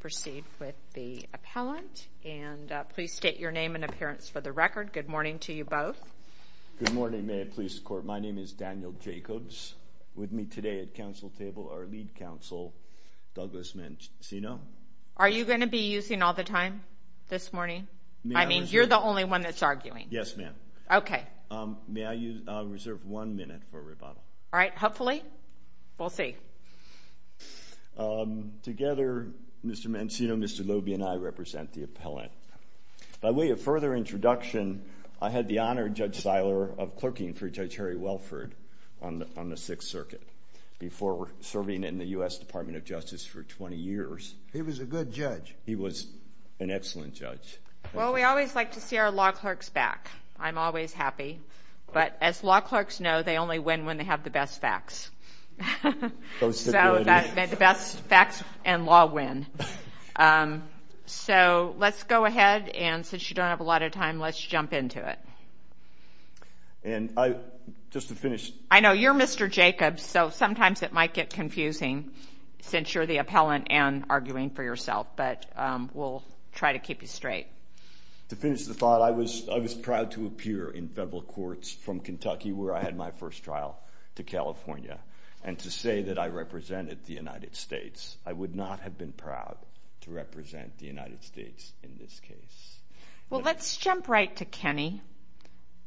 Proceed with the appellant and please state your name and appearance for the record. Good morning to you both Good morning, ma'am. Please court. My name is Daniel Jacobs with me today at council table our lead counsel Douglas mentioned, you know, are you gonna be using all the time this morning? I mean, you're the only one that's arguing. Yes, ma'am Okay, may I use reserve one minute for rebuttal? All right, hopefully We'll see Together Mr. Mancino, mr. Lobey and I represent the appellant by way of further introduction I had the honor judge Seiler of clerking for Judge Harry Welford on the Sixth Circuit Before serving in the US Department of Justice for 20 years. He was a good judge. He was an excellent judge Well, we always like to see our law clerks back. I'm always happy but as law clerks know they only win when they have the best facts The best facts and law win So, let's go ahead and since you don't have a lot of time let's jump into it And I just to finish I know you're mr. Jacobs. So sometimes it might get confusing Since you're the appellant and arguing for yourself, but we'll try to keep you straight To finish the thought I was I was proud to appear in federal courts from Kentucky where I had my first trial To California and to say that I represented the United States I would not have been proud to represent the United States in this case. Well, let's jump right to Kenny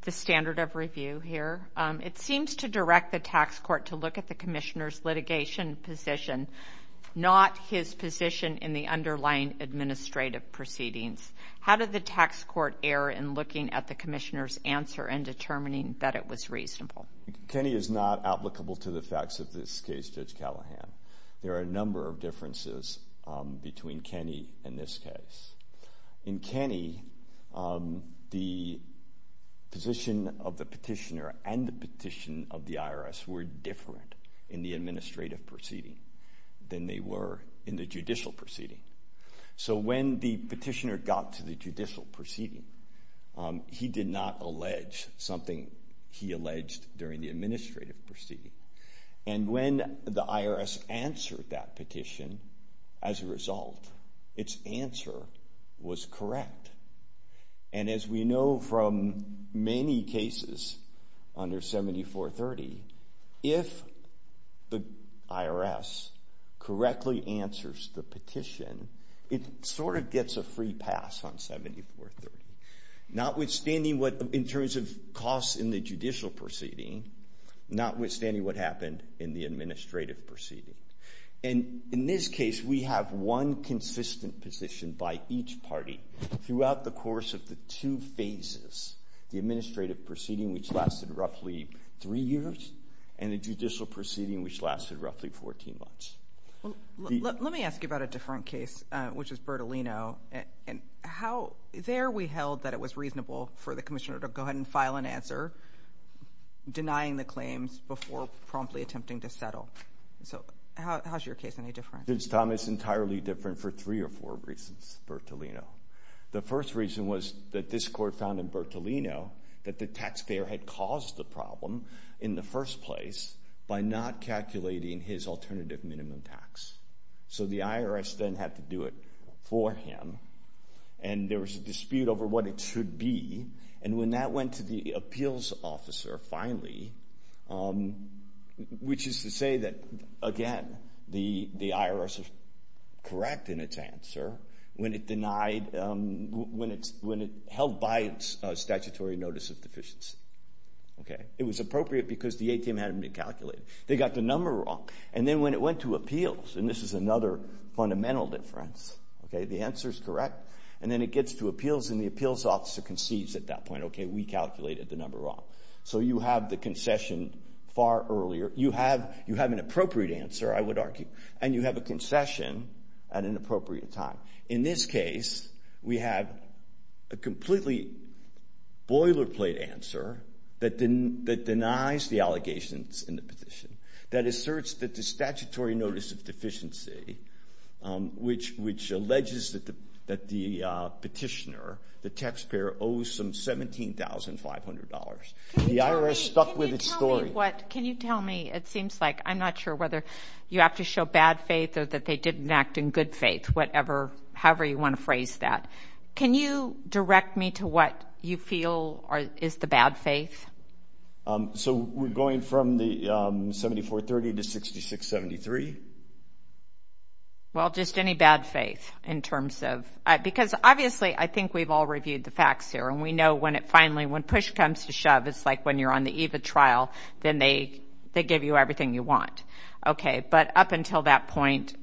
The standard of review here. It seems to direct the tax court to look at the commissioners litigation position Not his position in the underlying Administrative proceedings. How did the tax court err in looking at the commissioners answer and determining that it was reasonable? Kenny is not applicable to the facts of this case judge Callahan. There are a number of differences between Kenny in this case in Kenny the Position of the petitioner and the petition of the IRS were different in the administrative proceeding Than they were in the judicial proceeding. So when the petitioner got to the judicial proceeding He did not allege something he alleged during the administrative proceeding and when the IRS answered that petition as a result its answer was correct and as we know from many cases under 7430 if the IRS Correctly answers the petition. It sort of gets a free pass on 7430 Not withstanding what in terms of costs in the judicial proceeding Not withstanding what happened in the administrative proceeding and in this case We have one consistent position by each party throughout the course of the two phases The administrative proceeding which lasted roughly three years and the judicial proceeding which lasted roughly 14 months Let me ask you about a different case which is Bertolino and how there we held that it was reasonable for the commissioner to go ahead and file an answer Denying the claims before promptly attempting to settle. So how's your case any different? It's Thomas entirely different for three or four reasons Bertolino The first reason was that this court found in Bertolino that the taxpayer had caused the problem in the first place By not calculating his alternative minimum tax so the IRS then had to do it for him and There was a dispute over what it should be and when that went to the appeals officer finally Which is to say that again the the IRS is Correct in its answer when it denied When it's when it held by its statutory notice of deficiency Okay, it was appropriate because the ATM hadn't been calculated They got the number wrong and then when it went to appeals and this is another fundamental difference Okay, the answer is correct and then it gets to appeals and the appeals officer concedes at that point Okay, we calculated the number wrong. So you have the concession far earlier you have you have an appropriate answer I would argue and you have a concession at an appropriate time in this case. We have a completely Boilerplate answer that didn't that denies the allegations in the petition that asserts that the statutory notice of deficiency Which which alleges that the that the Petitioner the taxpayer owes some seventeen thousand five hundred dollars the IRS stuck with its story What can you tell me it seems like I'm not sure whether you have to show bad faith or that they didn't act in good Whatever however, you want to phrase that can you direct me to what you feel or is the bad faith? so we're going from the 7430 to 6673 Well just any bad faith in terms of because obviously I think we've all reviewed the facts here And we know when it finally when push comes to shove It's like when you're on the Eva trial, then they they give you everything you want. Okay, but up until that point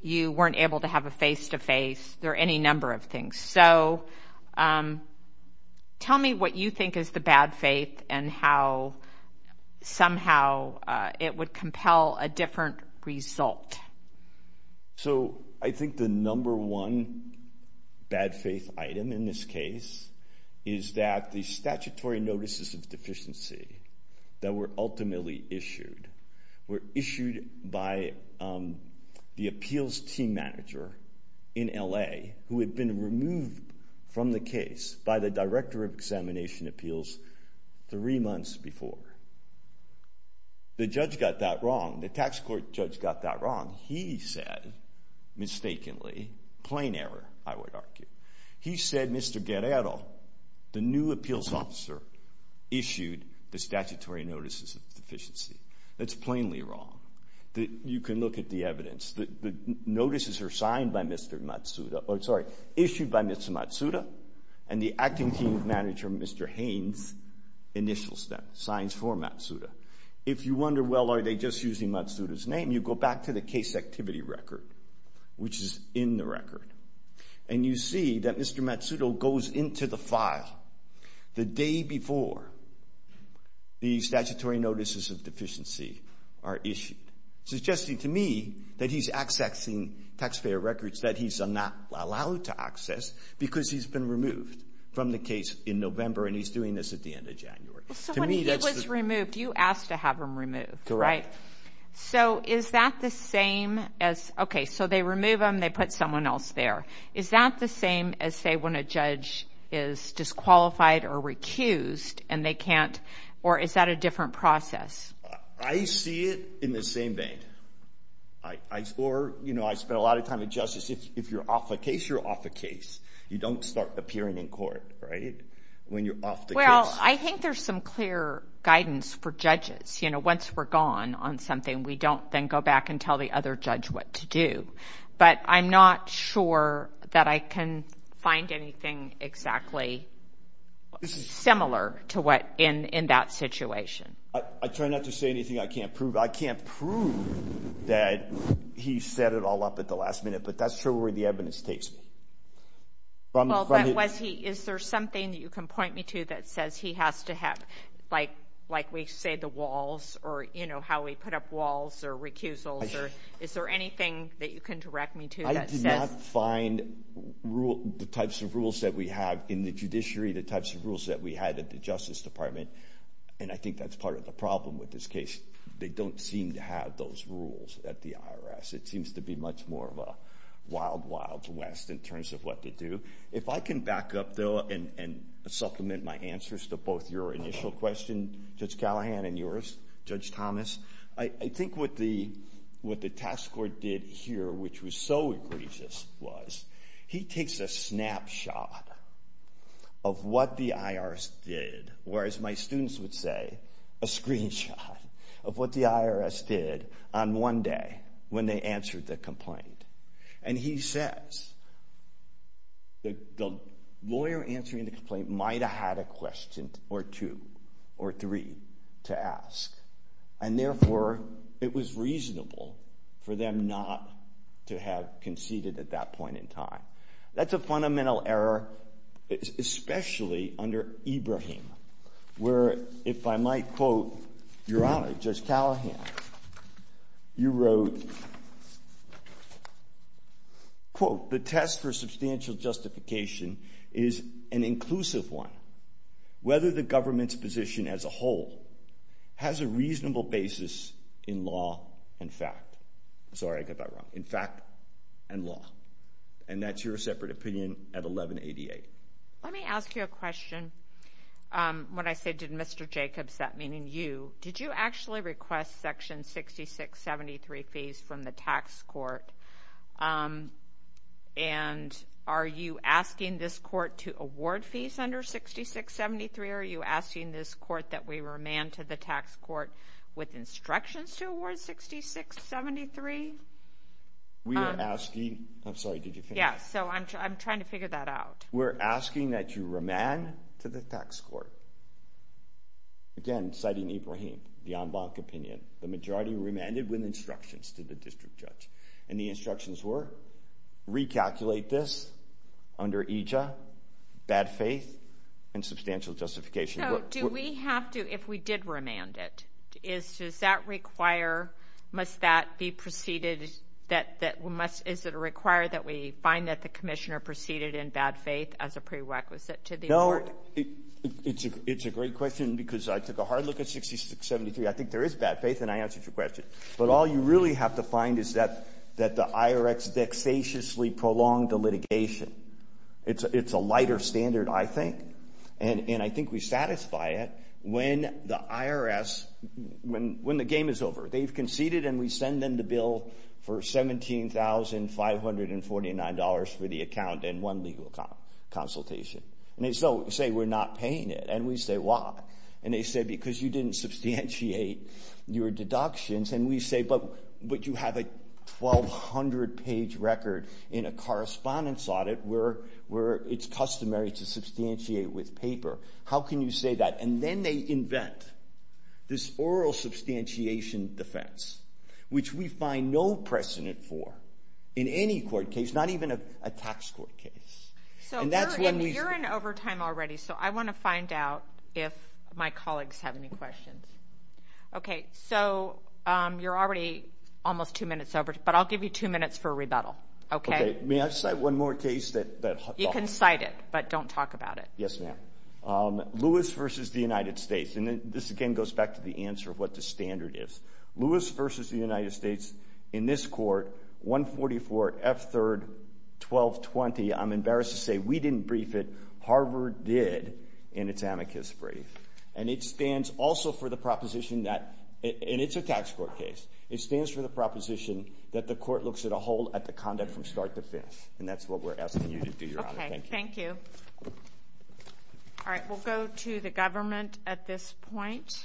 You weren't able to have a face-to-face there any number of things so Tell me what you think is the bad faith and how Somehow it would compel a different result So I think the number one Bad faith item in this case is that the statutory notices of deficiency That were ultimately issued were issued by The appeals team manager in LA who had been removed from the case by the director of examination appeals three months before The judge got that wrong the tax court judge got that wrong he said Mistakenly plain error I would argue. He said mr. Guerrero the new appeals officer Issued the statutory notices of deficiency that's plainly wrong that you can look at the evidence that the Notices are signed by mr. Matsuda. I'm sorry issued by mr. Matsuda and the acting team manager mr. Haynes Initials them signs for Matsuda if you wonder well are they just using Matsuda's name you go back to the case activity record Which is in the record and you see that mr. Matsuda goes into the file The day before The statutory notices of deficiency are issued Suggesting to me that he's accessing Taxpayer records that he's not allowed to access because he's been removed from the case in November And he's doing this at the end of January Removed you asked to have him removed right so is that the same as okay? They remove them they put someone else there is that the same as say when a judge is Disqualified or recused and they can't or is that a different process? I see it in the same vein Or you know I spent a lot of time in justice if you're off the case you're off the case You don't start appearing in court right when you're off the well I think there's some clear guidance for judges. You know once we're gone on something We don't then go back and tell the other judge what to do, but I'm not sure that I can find anything exactly Similar to what in in that situation I try not to say anything. I can't prove I can't prove That he set it all up at the last minute, but that's true where the evidence takes me Well, that was he is there something you can point me to that says he has to have like like we say the walls Or you know how we put up walls or recusals, or is there anything that you can direct me to I did not find Rule the types of rules that we have in the judiciary the types of rules that we had at the Justice Department And I think that's part of the problem with this case. They don't seem to have those rules at the IRS It seems to be much more of a wild wild west in terms of what to do if I can back up though and Supplement my answers to both your initial question judge Callahan and yours judge Thomas I think what the what the task force did here, which was so egregious was he takes a snapshot of what the IRS did whereas my students would say a Screenshot of what the IRS did on one day when they answered the complaint and he says The lawyer answering the complaint might have had a question or two or three to ask and Therefore it was reasonable for them not to have conceded at that point in time. That's a fundamental error Especially under Ibrahim where if I might quote your honor judge Callahan you wrote A Quote the test for substantial justification is an inclusive one Whether the government's position as a whole Has a reasonable basis in law and fact Sorry, I got that wrong in fact and law and that's your separate opinion at 1188. Let me ask you a question When I say did mr. Jacobs that meaning you did you actually request section 66 73 fees from the tax court and Are you asking this court to award fees under 66 73? Are you asking this court that we were a man to the tax court with instructions to award? 6673 We are asking. I'm sorry. Did you yeah, so I'm trying to figure that out We're asking that you remand to the tax court Again citing Ibrahim the en banc opinion the majority remanded with instructions to the district judge and the instructions were recalculate this under IJA bad faith and Substantial justification do we have to if we did remand it is does that require? Must that be preceded that that must is that a require that we find that the Commissioner preceded in bad faith as a prerequisite to the It's a great question because I took a hard look at 66 73 I think there is bad faith and I answered your question But all you really have to find is that that the IRX dexaciously prolonged the litigation It's it's a lighter standard. I think and and I think we satisfy it when the IRS When when the game is over they've conceded and we send them the bill for $17,549 for the account and one legal Consultation and they so say we're not paying it and we say why and they said because you didn't substantiate your deductions and we say but but you have a 1,200 page record in a correspondence audit where where it's customary to substantiate with paper How can you say that and then they invent? this oral Substantiation defense which we find no precedent for in any court case not even a tax court case So that's when we're in overtime already, so I want to find out if my colleagues have any questions Okay, so You're already almost two minutes over, but I'll give you two minutes for a rebuttal Okay, may I just say one more case that you can cite it, but don't talk about it. Yes, ma'am Lewis versus the United States and then this again goes back to the answer of what the standard is Lewis versus the United States in this court 144 f 3rd 1220 I'm embarrassed to say we didn't brief it Harvard did in its amicus brief and it stands also for the proposition that And it's a tax court case it stands for the proposition That the court looks at a hold at the conduct from start to finish, and that's what we're asking you to do your honor Thank you All right, we'll go to the government at this point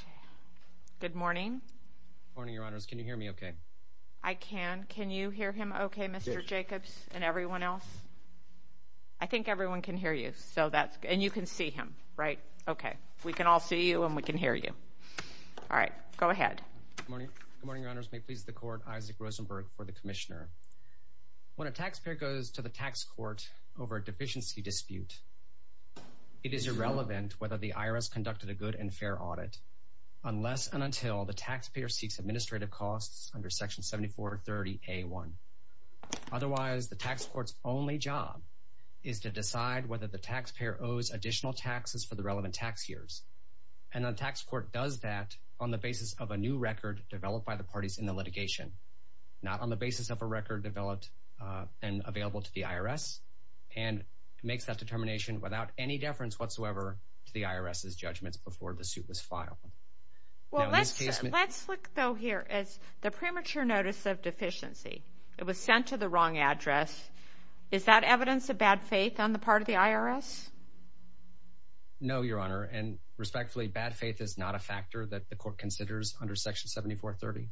Good morning Morning, your honors. Can you hear me? Okay? I can can you hear him? Okay, mr. Jacobs and everyone else I Think everyone can hear you so that's and you can see him right? Okay, we can all see you and we can hear you All right, go ahead Morning, your honors may please the court Isaac Rosenberg for the commissioner When a taxpayer goes to the tax court over a deficiency dispute It is irrelevant whether the IRS conducted a good and fair audit Unless and until the taxpayer seeks administrative costs under section 74 30 a1 Otherwise the tax courts only job is to decide whether the taxpayer owes additional taxes for the relevant tax years And the tax court does that on the basis of a new record developed by the parties in the litigation? Not on the basis of a record developed and available to the IRS and Makes that determination without any deference whatsoever to the IRS's judgments before the suit was filed Well, let's let's look though here as the premature notice of deficiency. It was sent to the wrong address Is that evidence of bad faith on the part of the IRS? No, your honor and respectfully bad faith is not a factor that the court considers under section 74 30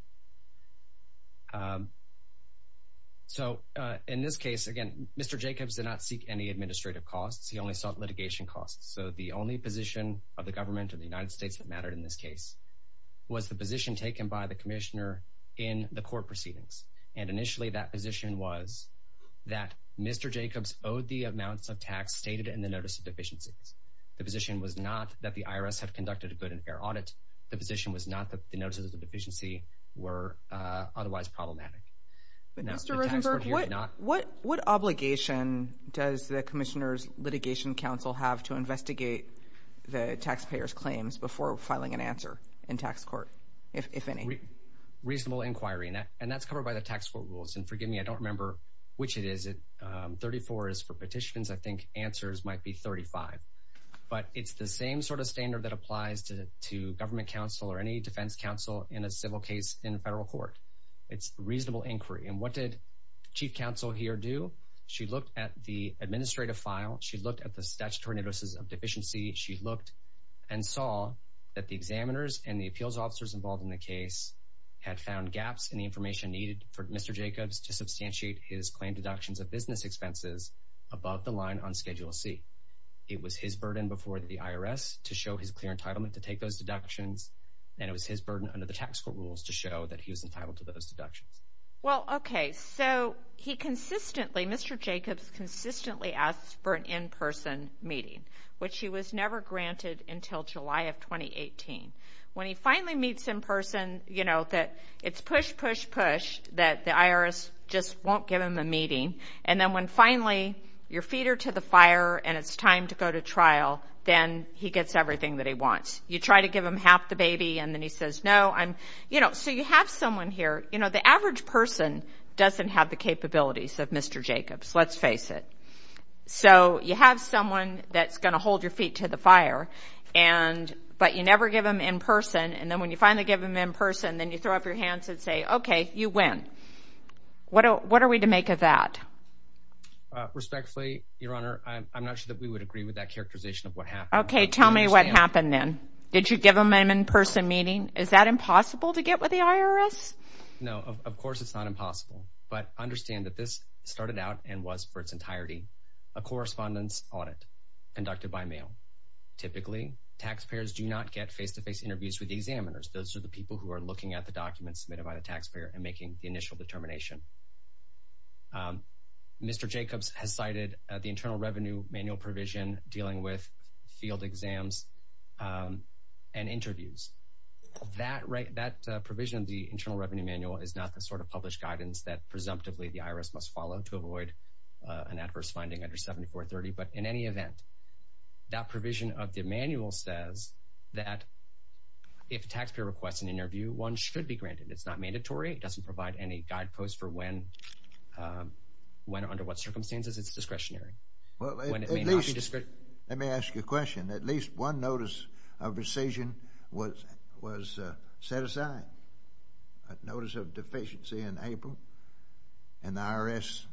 So In this case again, mr. Jacobs did not seek any administrative costs. He only sought litigation costs So the only position of the government of the United States that mattered in this case Was the position taken by the commissioner in the court proceedings and initially that position was that? Mr. Jacobs owed the amounts of tax stated in the notice of deficiencies The position was not that the IRS have conducted a good and fair audit The position was not that the notices of deficiency were otherwise problematic What what obligation does the commissioners litigation council have to investigate? The taxpayers claims before filing an answer in tax court if any Reasonable inquiry and that and that's covered by the tax for rules and forgive me. I don't remember which it is it 34 is for petitions. I think answers might be 35 But it's the same sort of standard that applies to to government counsel or any defense counsel in a civil case in a federal court It's reasonable inquiry and what did chief counsel here do she looked at the administrative file? She looked at the statutory notices of deficiency She looked and saw that the examiners and the appeals officers involved in the case Had found gaps in the information needed for mr. Jacobs to substantiate his claim deductions of business expenses Above the line on Schedule C It was his burden before the IRS to show his clear entitlement to take those deductions And it was his burden under the tax for rules to show that he was entitled to those deductions. Well, okay, so he consistently mr Jacobs consistently asked for an in-person meeting which he was never granted until July of 2018 when he finally meets in person, you know that it's push push push that the IRS just won't give him a meeting and then Finally your feet are to the fire and it's time to go to trial Then he gets everything that he wants you try to give him half the baby and then he says no I'm you know, so you have someone here, you know, the average person doesn't have the capabilities of mr. Jacobs. Let's face it so you have someone that's going to hold your feet to the fire and But you never give him in person and then when you finally give him in person then you throw up your hands and say okay You win What what are we to make of that? Respectfully your honor. I'm not sure that we would agree with that characterization of what happened. Okay, tell me what happened Then did you give him an in-person meeting? Is that impossible to get with the IRS? no, of course, it's not impossible, but understand that this started out and was for its entirety a correspondence audit Conducted by mail typically taxpayers do not get face-to-face interviews with examiners Those are the people who are looking at the documents submitted by the taxpayer and making the initial determination Um, mr. Jacobs has cited the Internal Revenue Manual provision dealing with field exams and interviews That right that provision of the Internal Revenue Manual is not the sort of published guidance that presumptively the IRS must follow to avoid an adverse finding under 7430, but in any event that provision of the manual says that If taxpayer requests an interview one should be granted. It's not mandatory It doesn't provide any guideposts for when When or under what circumstances it's discretionary Let me ask you a question at least one notice of rescission was was set aside notice of deficiency in April and the IRS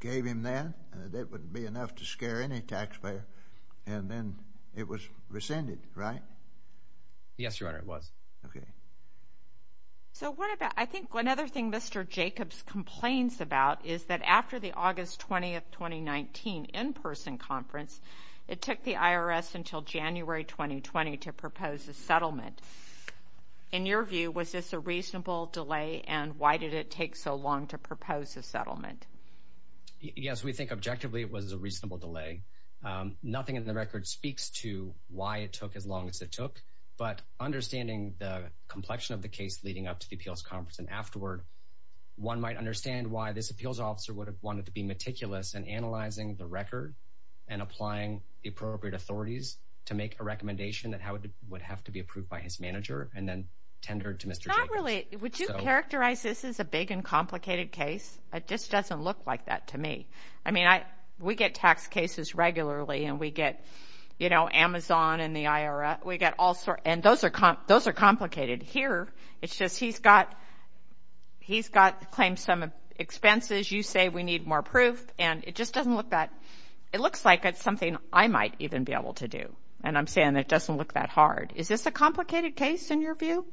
Gave him that and that wouldn't be enough to scare any taxpayer and then it was rescinded, right? Yes, your honor it was. Okay So, what about I think one other thing mr Jacobs complains about is that after the August 20th 2019 in-person conference It took the IRS until January 2020 to propose a settlement In your view, was this a reasonable delay and why did it take so long to propose a settlement? Yes, we think objectively it was a reasonable delay nothing in the record speaks to why it took as long as it took but Understanding the complexion of the case leading up to the appeals conference and afterward one might understand why this appeals officer would have wanted to be meticulous and analyzing the record and Applying the appropriate authorities to make a recommendation that how it would have to be approved by his manager and then tendered to mr Not really, would you characterize? This is a big and complicated case. It just doesn't look like that to me I mean, I we get tax cases regularly and we get you know Amazon and the IRA we get also and those are comp those are complicated here. It's just he's got He's got claimed some Expenses you say we need more proof and it just doesn't look that It looks like it's something I might even be able to do and I'm saying it doesn't look that hard Is this a complicated case in your view?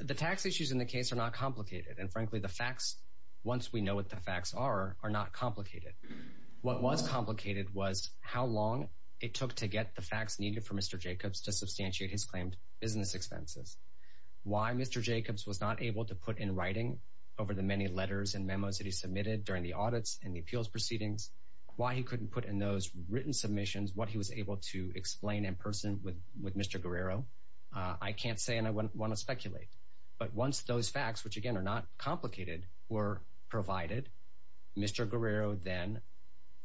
The tax issues in the case are not complicated and frankly the facts once we know what the facts are are not complicated What was complicated was how long it took to get the facts needed for mr. Jacobs to substantiate his claimed business expenses Why mr Jacobs was not able to put in writing over the many letters and memos that he submitted during the audits and the appeals proceedings Why he couldn't put in those written submissions what he was able to explain in person with with mr. Guerrero I can't say and I wouldn't want to speculate but once those facts which again are not complicated were provided Mr. Guerrero then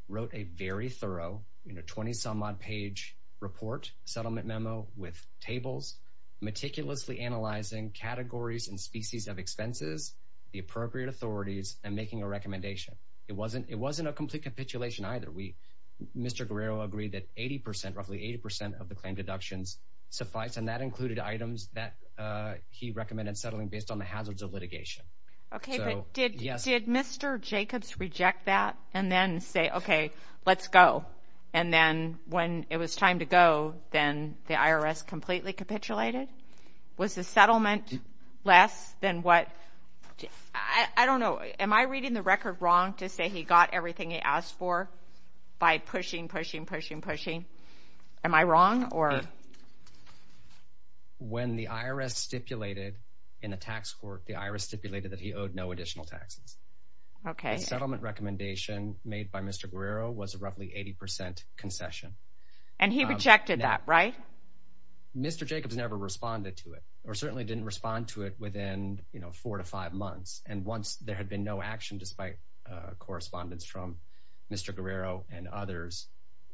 Wrote a very thorough in a 20-some-odd page report settlement memo with tables meticulously analyzing Categories and species of expenses the appropriate authorities and making a recommendation. It wasn't it wasn't a complete capitulation either. We Mr. Guerrero agreed that 80% roughly 80% of the claim deductions suffice and that included items that He recommended settling based on the hazards of litigation, okay Yes, mr. Jacobs reject that and then say okay, let's go And then when it was time to go then the IRS completely capitulated was the settlement less than what I Don't know am I reading the record wrong to say he got everything he asked for by pushing pushing pushing pushing am I wrong or When The IRS stipulated in a tax court the IRS stipulated that he owed no additional taxes Okay settlement recommendation made by mr. Guerrero was roughly 80% Concession and he rejected that right? Mr. Jacobs never responded to it or certainly didn't respond to it within you know four to five months and once there had been no action despite Correspondence from mr. Guerrero and others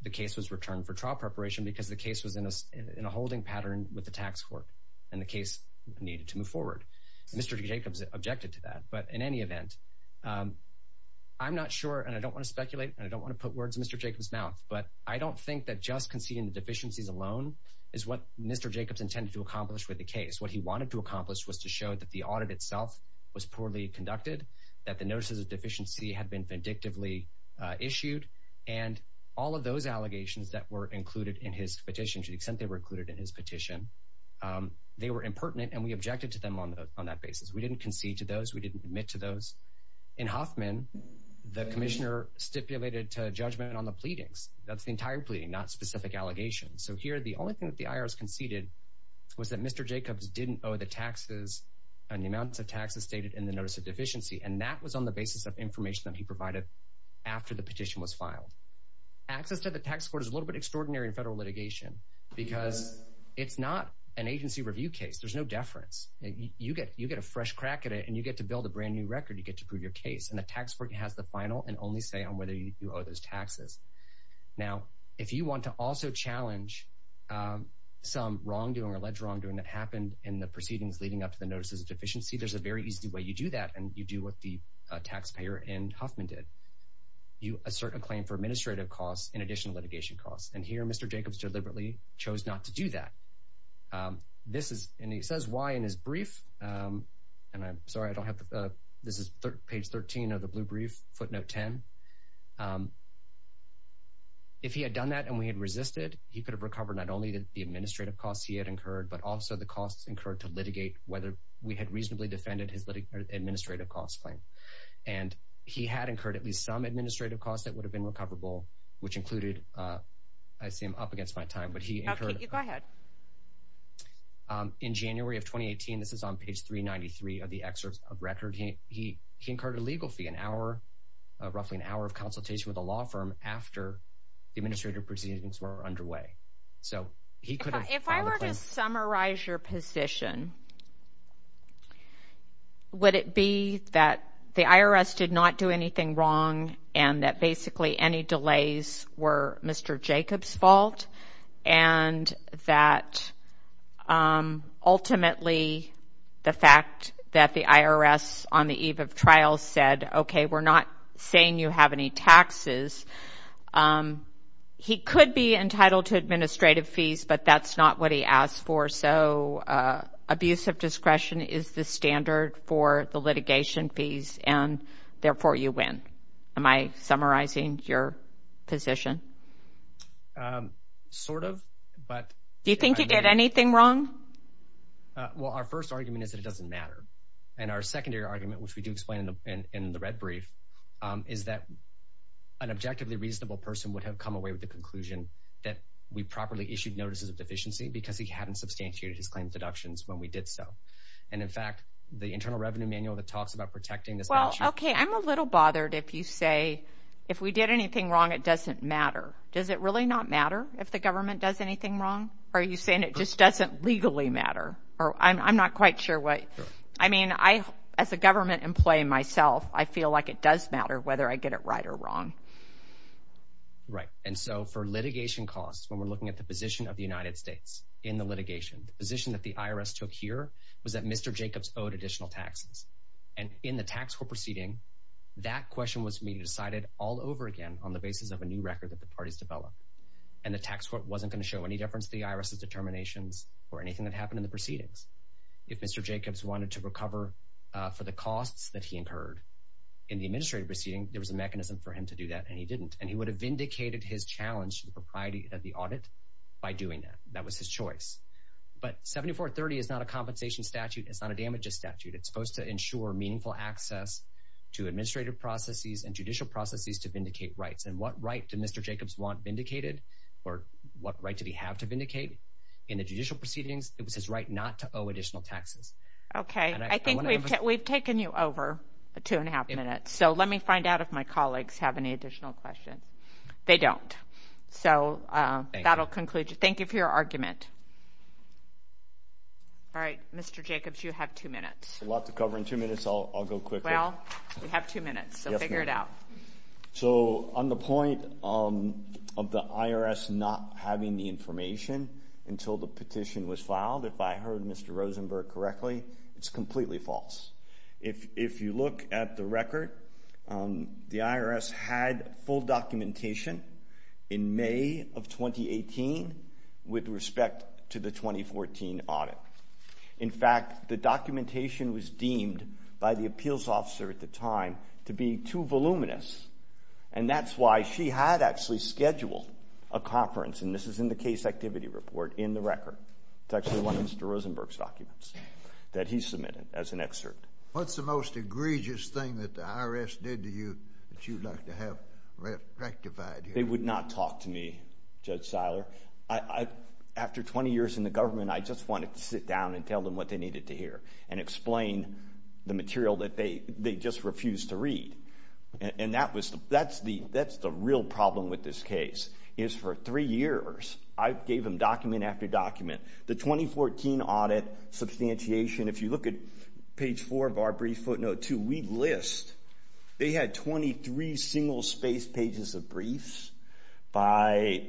the case was returned for trial preparation because the case was in us in a holding pattern with the Tax court and the case needed to move forward. Mr. Jacobs objected to that but in any event I'm not sure and I don't want to speculate and I don't want to put words. Mr. Jacobs mouth But I don't think that just conceding the deficiencies alone is what mr. Jacobs intended to accomplish with the case what he wanted to accomplish was to show that the audit itself was poorly conducted That the notices of deficiency had been vindictively Issued and all of those allegations that were included in his petition to the extent they were included in his petition They were impertinent and we objected to them on that basis. We didn't concede to those we didn't admit to those in Hoffman the Commissioner stipulated to judgment on the pleadings. That's the entire pleading not specific allegations So here the only thing that the IRS conceded was that mr Jacobs didn't owe the taxes and the amounts of taxes stated in the notice of deficiency and that was on the basis of information That he provided after the petition was filed Access to the tax court is a little bit extraordinary in federal litigation because it's not an agency review case There's no deference You get you get a fresh crack at it and you get to build a brand new record you get to prove your case and The tax work has the final and only say on whether you owe those taxes Now if you want to also challenge Some wrongdoing or alleged wrongdoing that happened in the proceedings leading up to the notices of deficiency There's a very easy way you do that and you do what the taxpayer and Huffman did You assert a claim for administrative costs in addition litigation costs and here. Mr. Jacobs deliberately chose not to do that This is and he says why in his brief and I'm sorry. I don't have the this is page 13 of the blue brief footnote 10 If he had done that and we had resisted he could have recovered not only that the administrative costs he had incurred but also the costs incurred to litigate whether we had reasonably defended his litigating administrative costs claim and He had incurred at least some administrative costs that would have been recoverable which included I seem up against my time, but he In January of 2018, this is on page 393 of the excerpts of record he he he incurred a legal fee an hour Roughly an hour of consultation with a law firm after the administrative proceedings were underway So he could if I were to summarize your position Would it be that the IRS did not do anything wrong and that basically any delays were Mr. Jacobs fault and that Ultimately The fact that the IRS on the eve of trials said, okay, we're not saying you have any taxes He could be entitled to administrative fees, but that's not what he asked for so Abuse of discretion is the standard for the litigation fees and therefore you win. Am I summarizing your position Sort of but do you think you did anything wrong? Well, our first argument is that it doesn't matter and our secondary argument which we do explain in the red brief is that An objectively reasonable person would have come away with the conclusion that we properly issued notices of deficiency Because he hadn't substantiated his claims deductions when we did so and in fact the Internal Revenue Manual that talks about protecting this well Okay, I'm a little bothered if you say if we did anything wrong, it doesn't matter Does it really not matter if the government does anything wrong? Are you saying it just doesn't legally matter or I'm not quite sure what I mean I as a government employee myself, I feel like it does matter whether I get it right or wrong Right and so for litigation costs when we're looking at the position of the United States in the litigation position that the IRS took here Was that mr. Jacobs owed additional taxes and in the tax for proceeding? That question was me decided all over again on the basis of a new record that the parties developed and The tax court wasn't going to show any difference the IRS's determinations or anything that happened in the proceedings if mr Jacobs wanted to recover For the costs that he incurred in the administrative proceeding There was a mechanism for him to do that and he didn't and he would have indicated his challenge to the propriety of the audit By doing that that was his choice But 7430 is not a compensation statute. It's not a damages statute. It's supposed to ensure meaningful access Administrative processes and judicial processes to vindicate rights and what right to mr. Jacobs want vindicated or what right to be have to vindicate in the judicial proceedings It was his right not to owe additional taxes Okay, I think we've taken you over a two and a half minutes So, let me find out if my colleagues have any additional questions. They don't so That'll conclude you. Thank you for your argument All right, mr. Jacobs you have two minutes a lot to cover in two minutes, I'll go quick well We have two minutes. So figure it out So on the point of the IRS not having the information Until the petition was filed if I heard mr. Rosenberg correctly, it's completely false if if you look at the record the IRS had full documentation in May of 2018 with respect to the 2014 audit In fact the documentation was deemed by the appeals officer at the time to be too voluminous and That's why she had actually scheduled a conference and this is in the case activity report in the record It's actually one of mr. Rosenberg's documents that he submitted as an excerpt What's the most egregious thing that the IRS did to you that you'd like to have? Rectified they would not talk to me judge Seiler. I After 20 years in the government I just wanted to sit down and tell them what they needed to hear and explain The material that they they just refused to read and that was that's the that's the real problem with this case is for three years I gave them document after document the 2014 audit Substantiation if you look at page four of our brief footnote to we list they had 23 single space pages of briefs by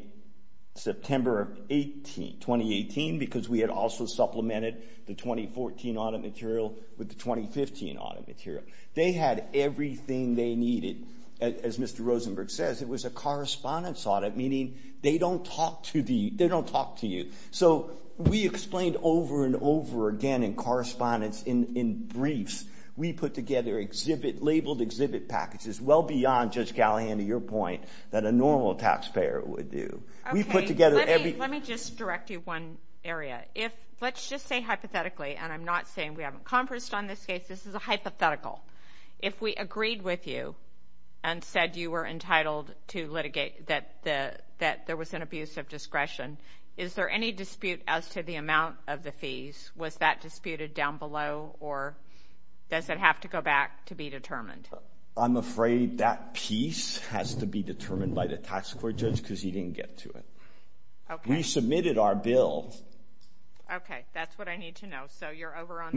September 1820 18 because we had also supplemented the 2014 audit material with the 2015 audit material They had everything they needed as mr. Rosenberg says it was a correspondence audit meaning They don't talk to the they don't talk to you So we explained over and over again in correspondence in in briefs We put together exhibit labeled exhibit packages well beyond just gallant to your point that a normal taxpayer would do We put together everything just direct you one area if let's just say hypothetically and I'm not saying we haven't conversed on this case this is a hypothetical if we agreed with you and Said you were entitled to litigate that the that there was an abuse of discretion Is there any dispute as to the amount of the fees was that disputed down below or? I'm afraid that piece has to be determined by the tax court judge because he didn't get to it. Okay, we submitted our bill We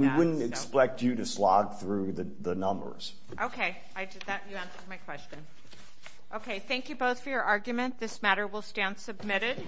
wouldn't expect you to slog through the numbers, okay Okay, thank you both for your argument this matter will stand submitted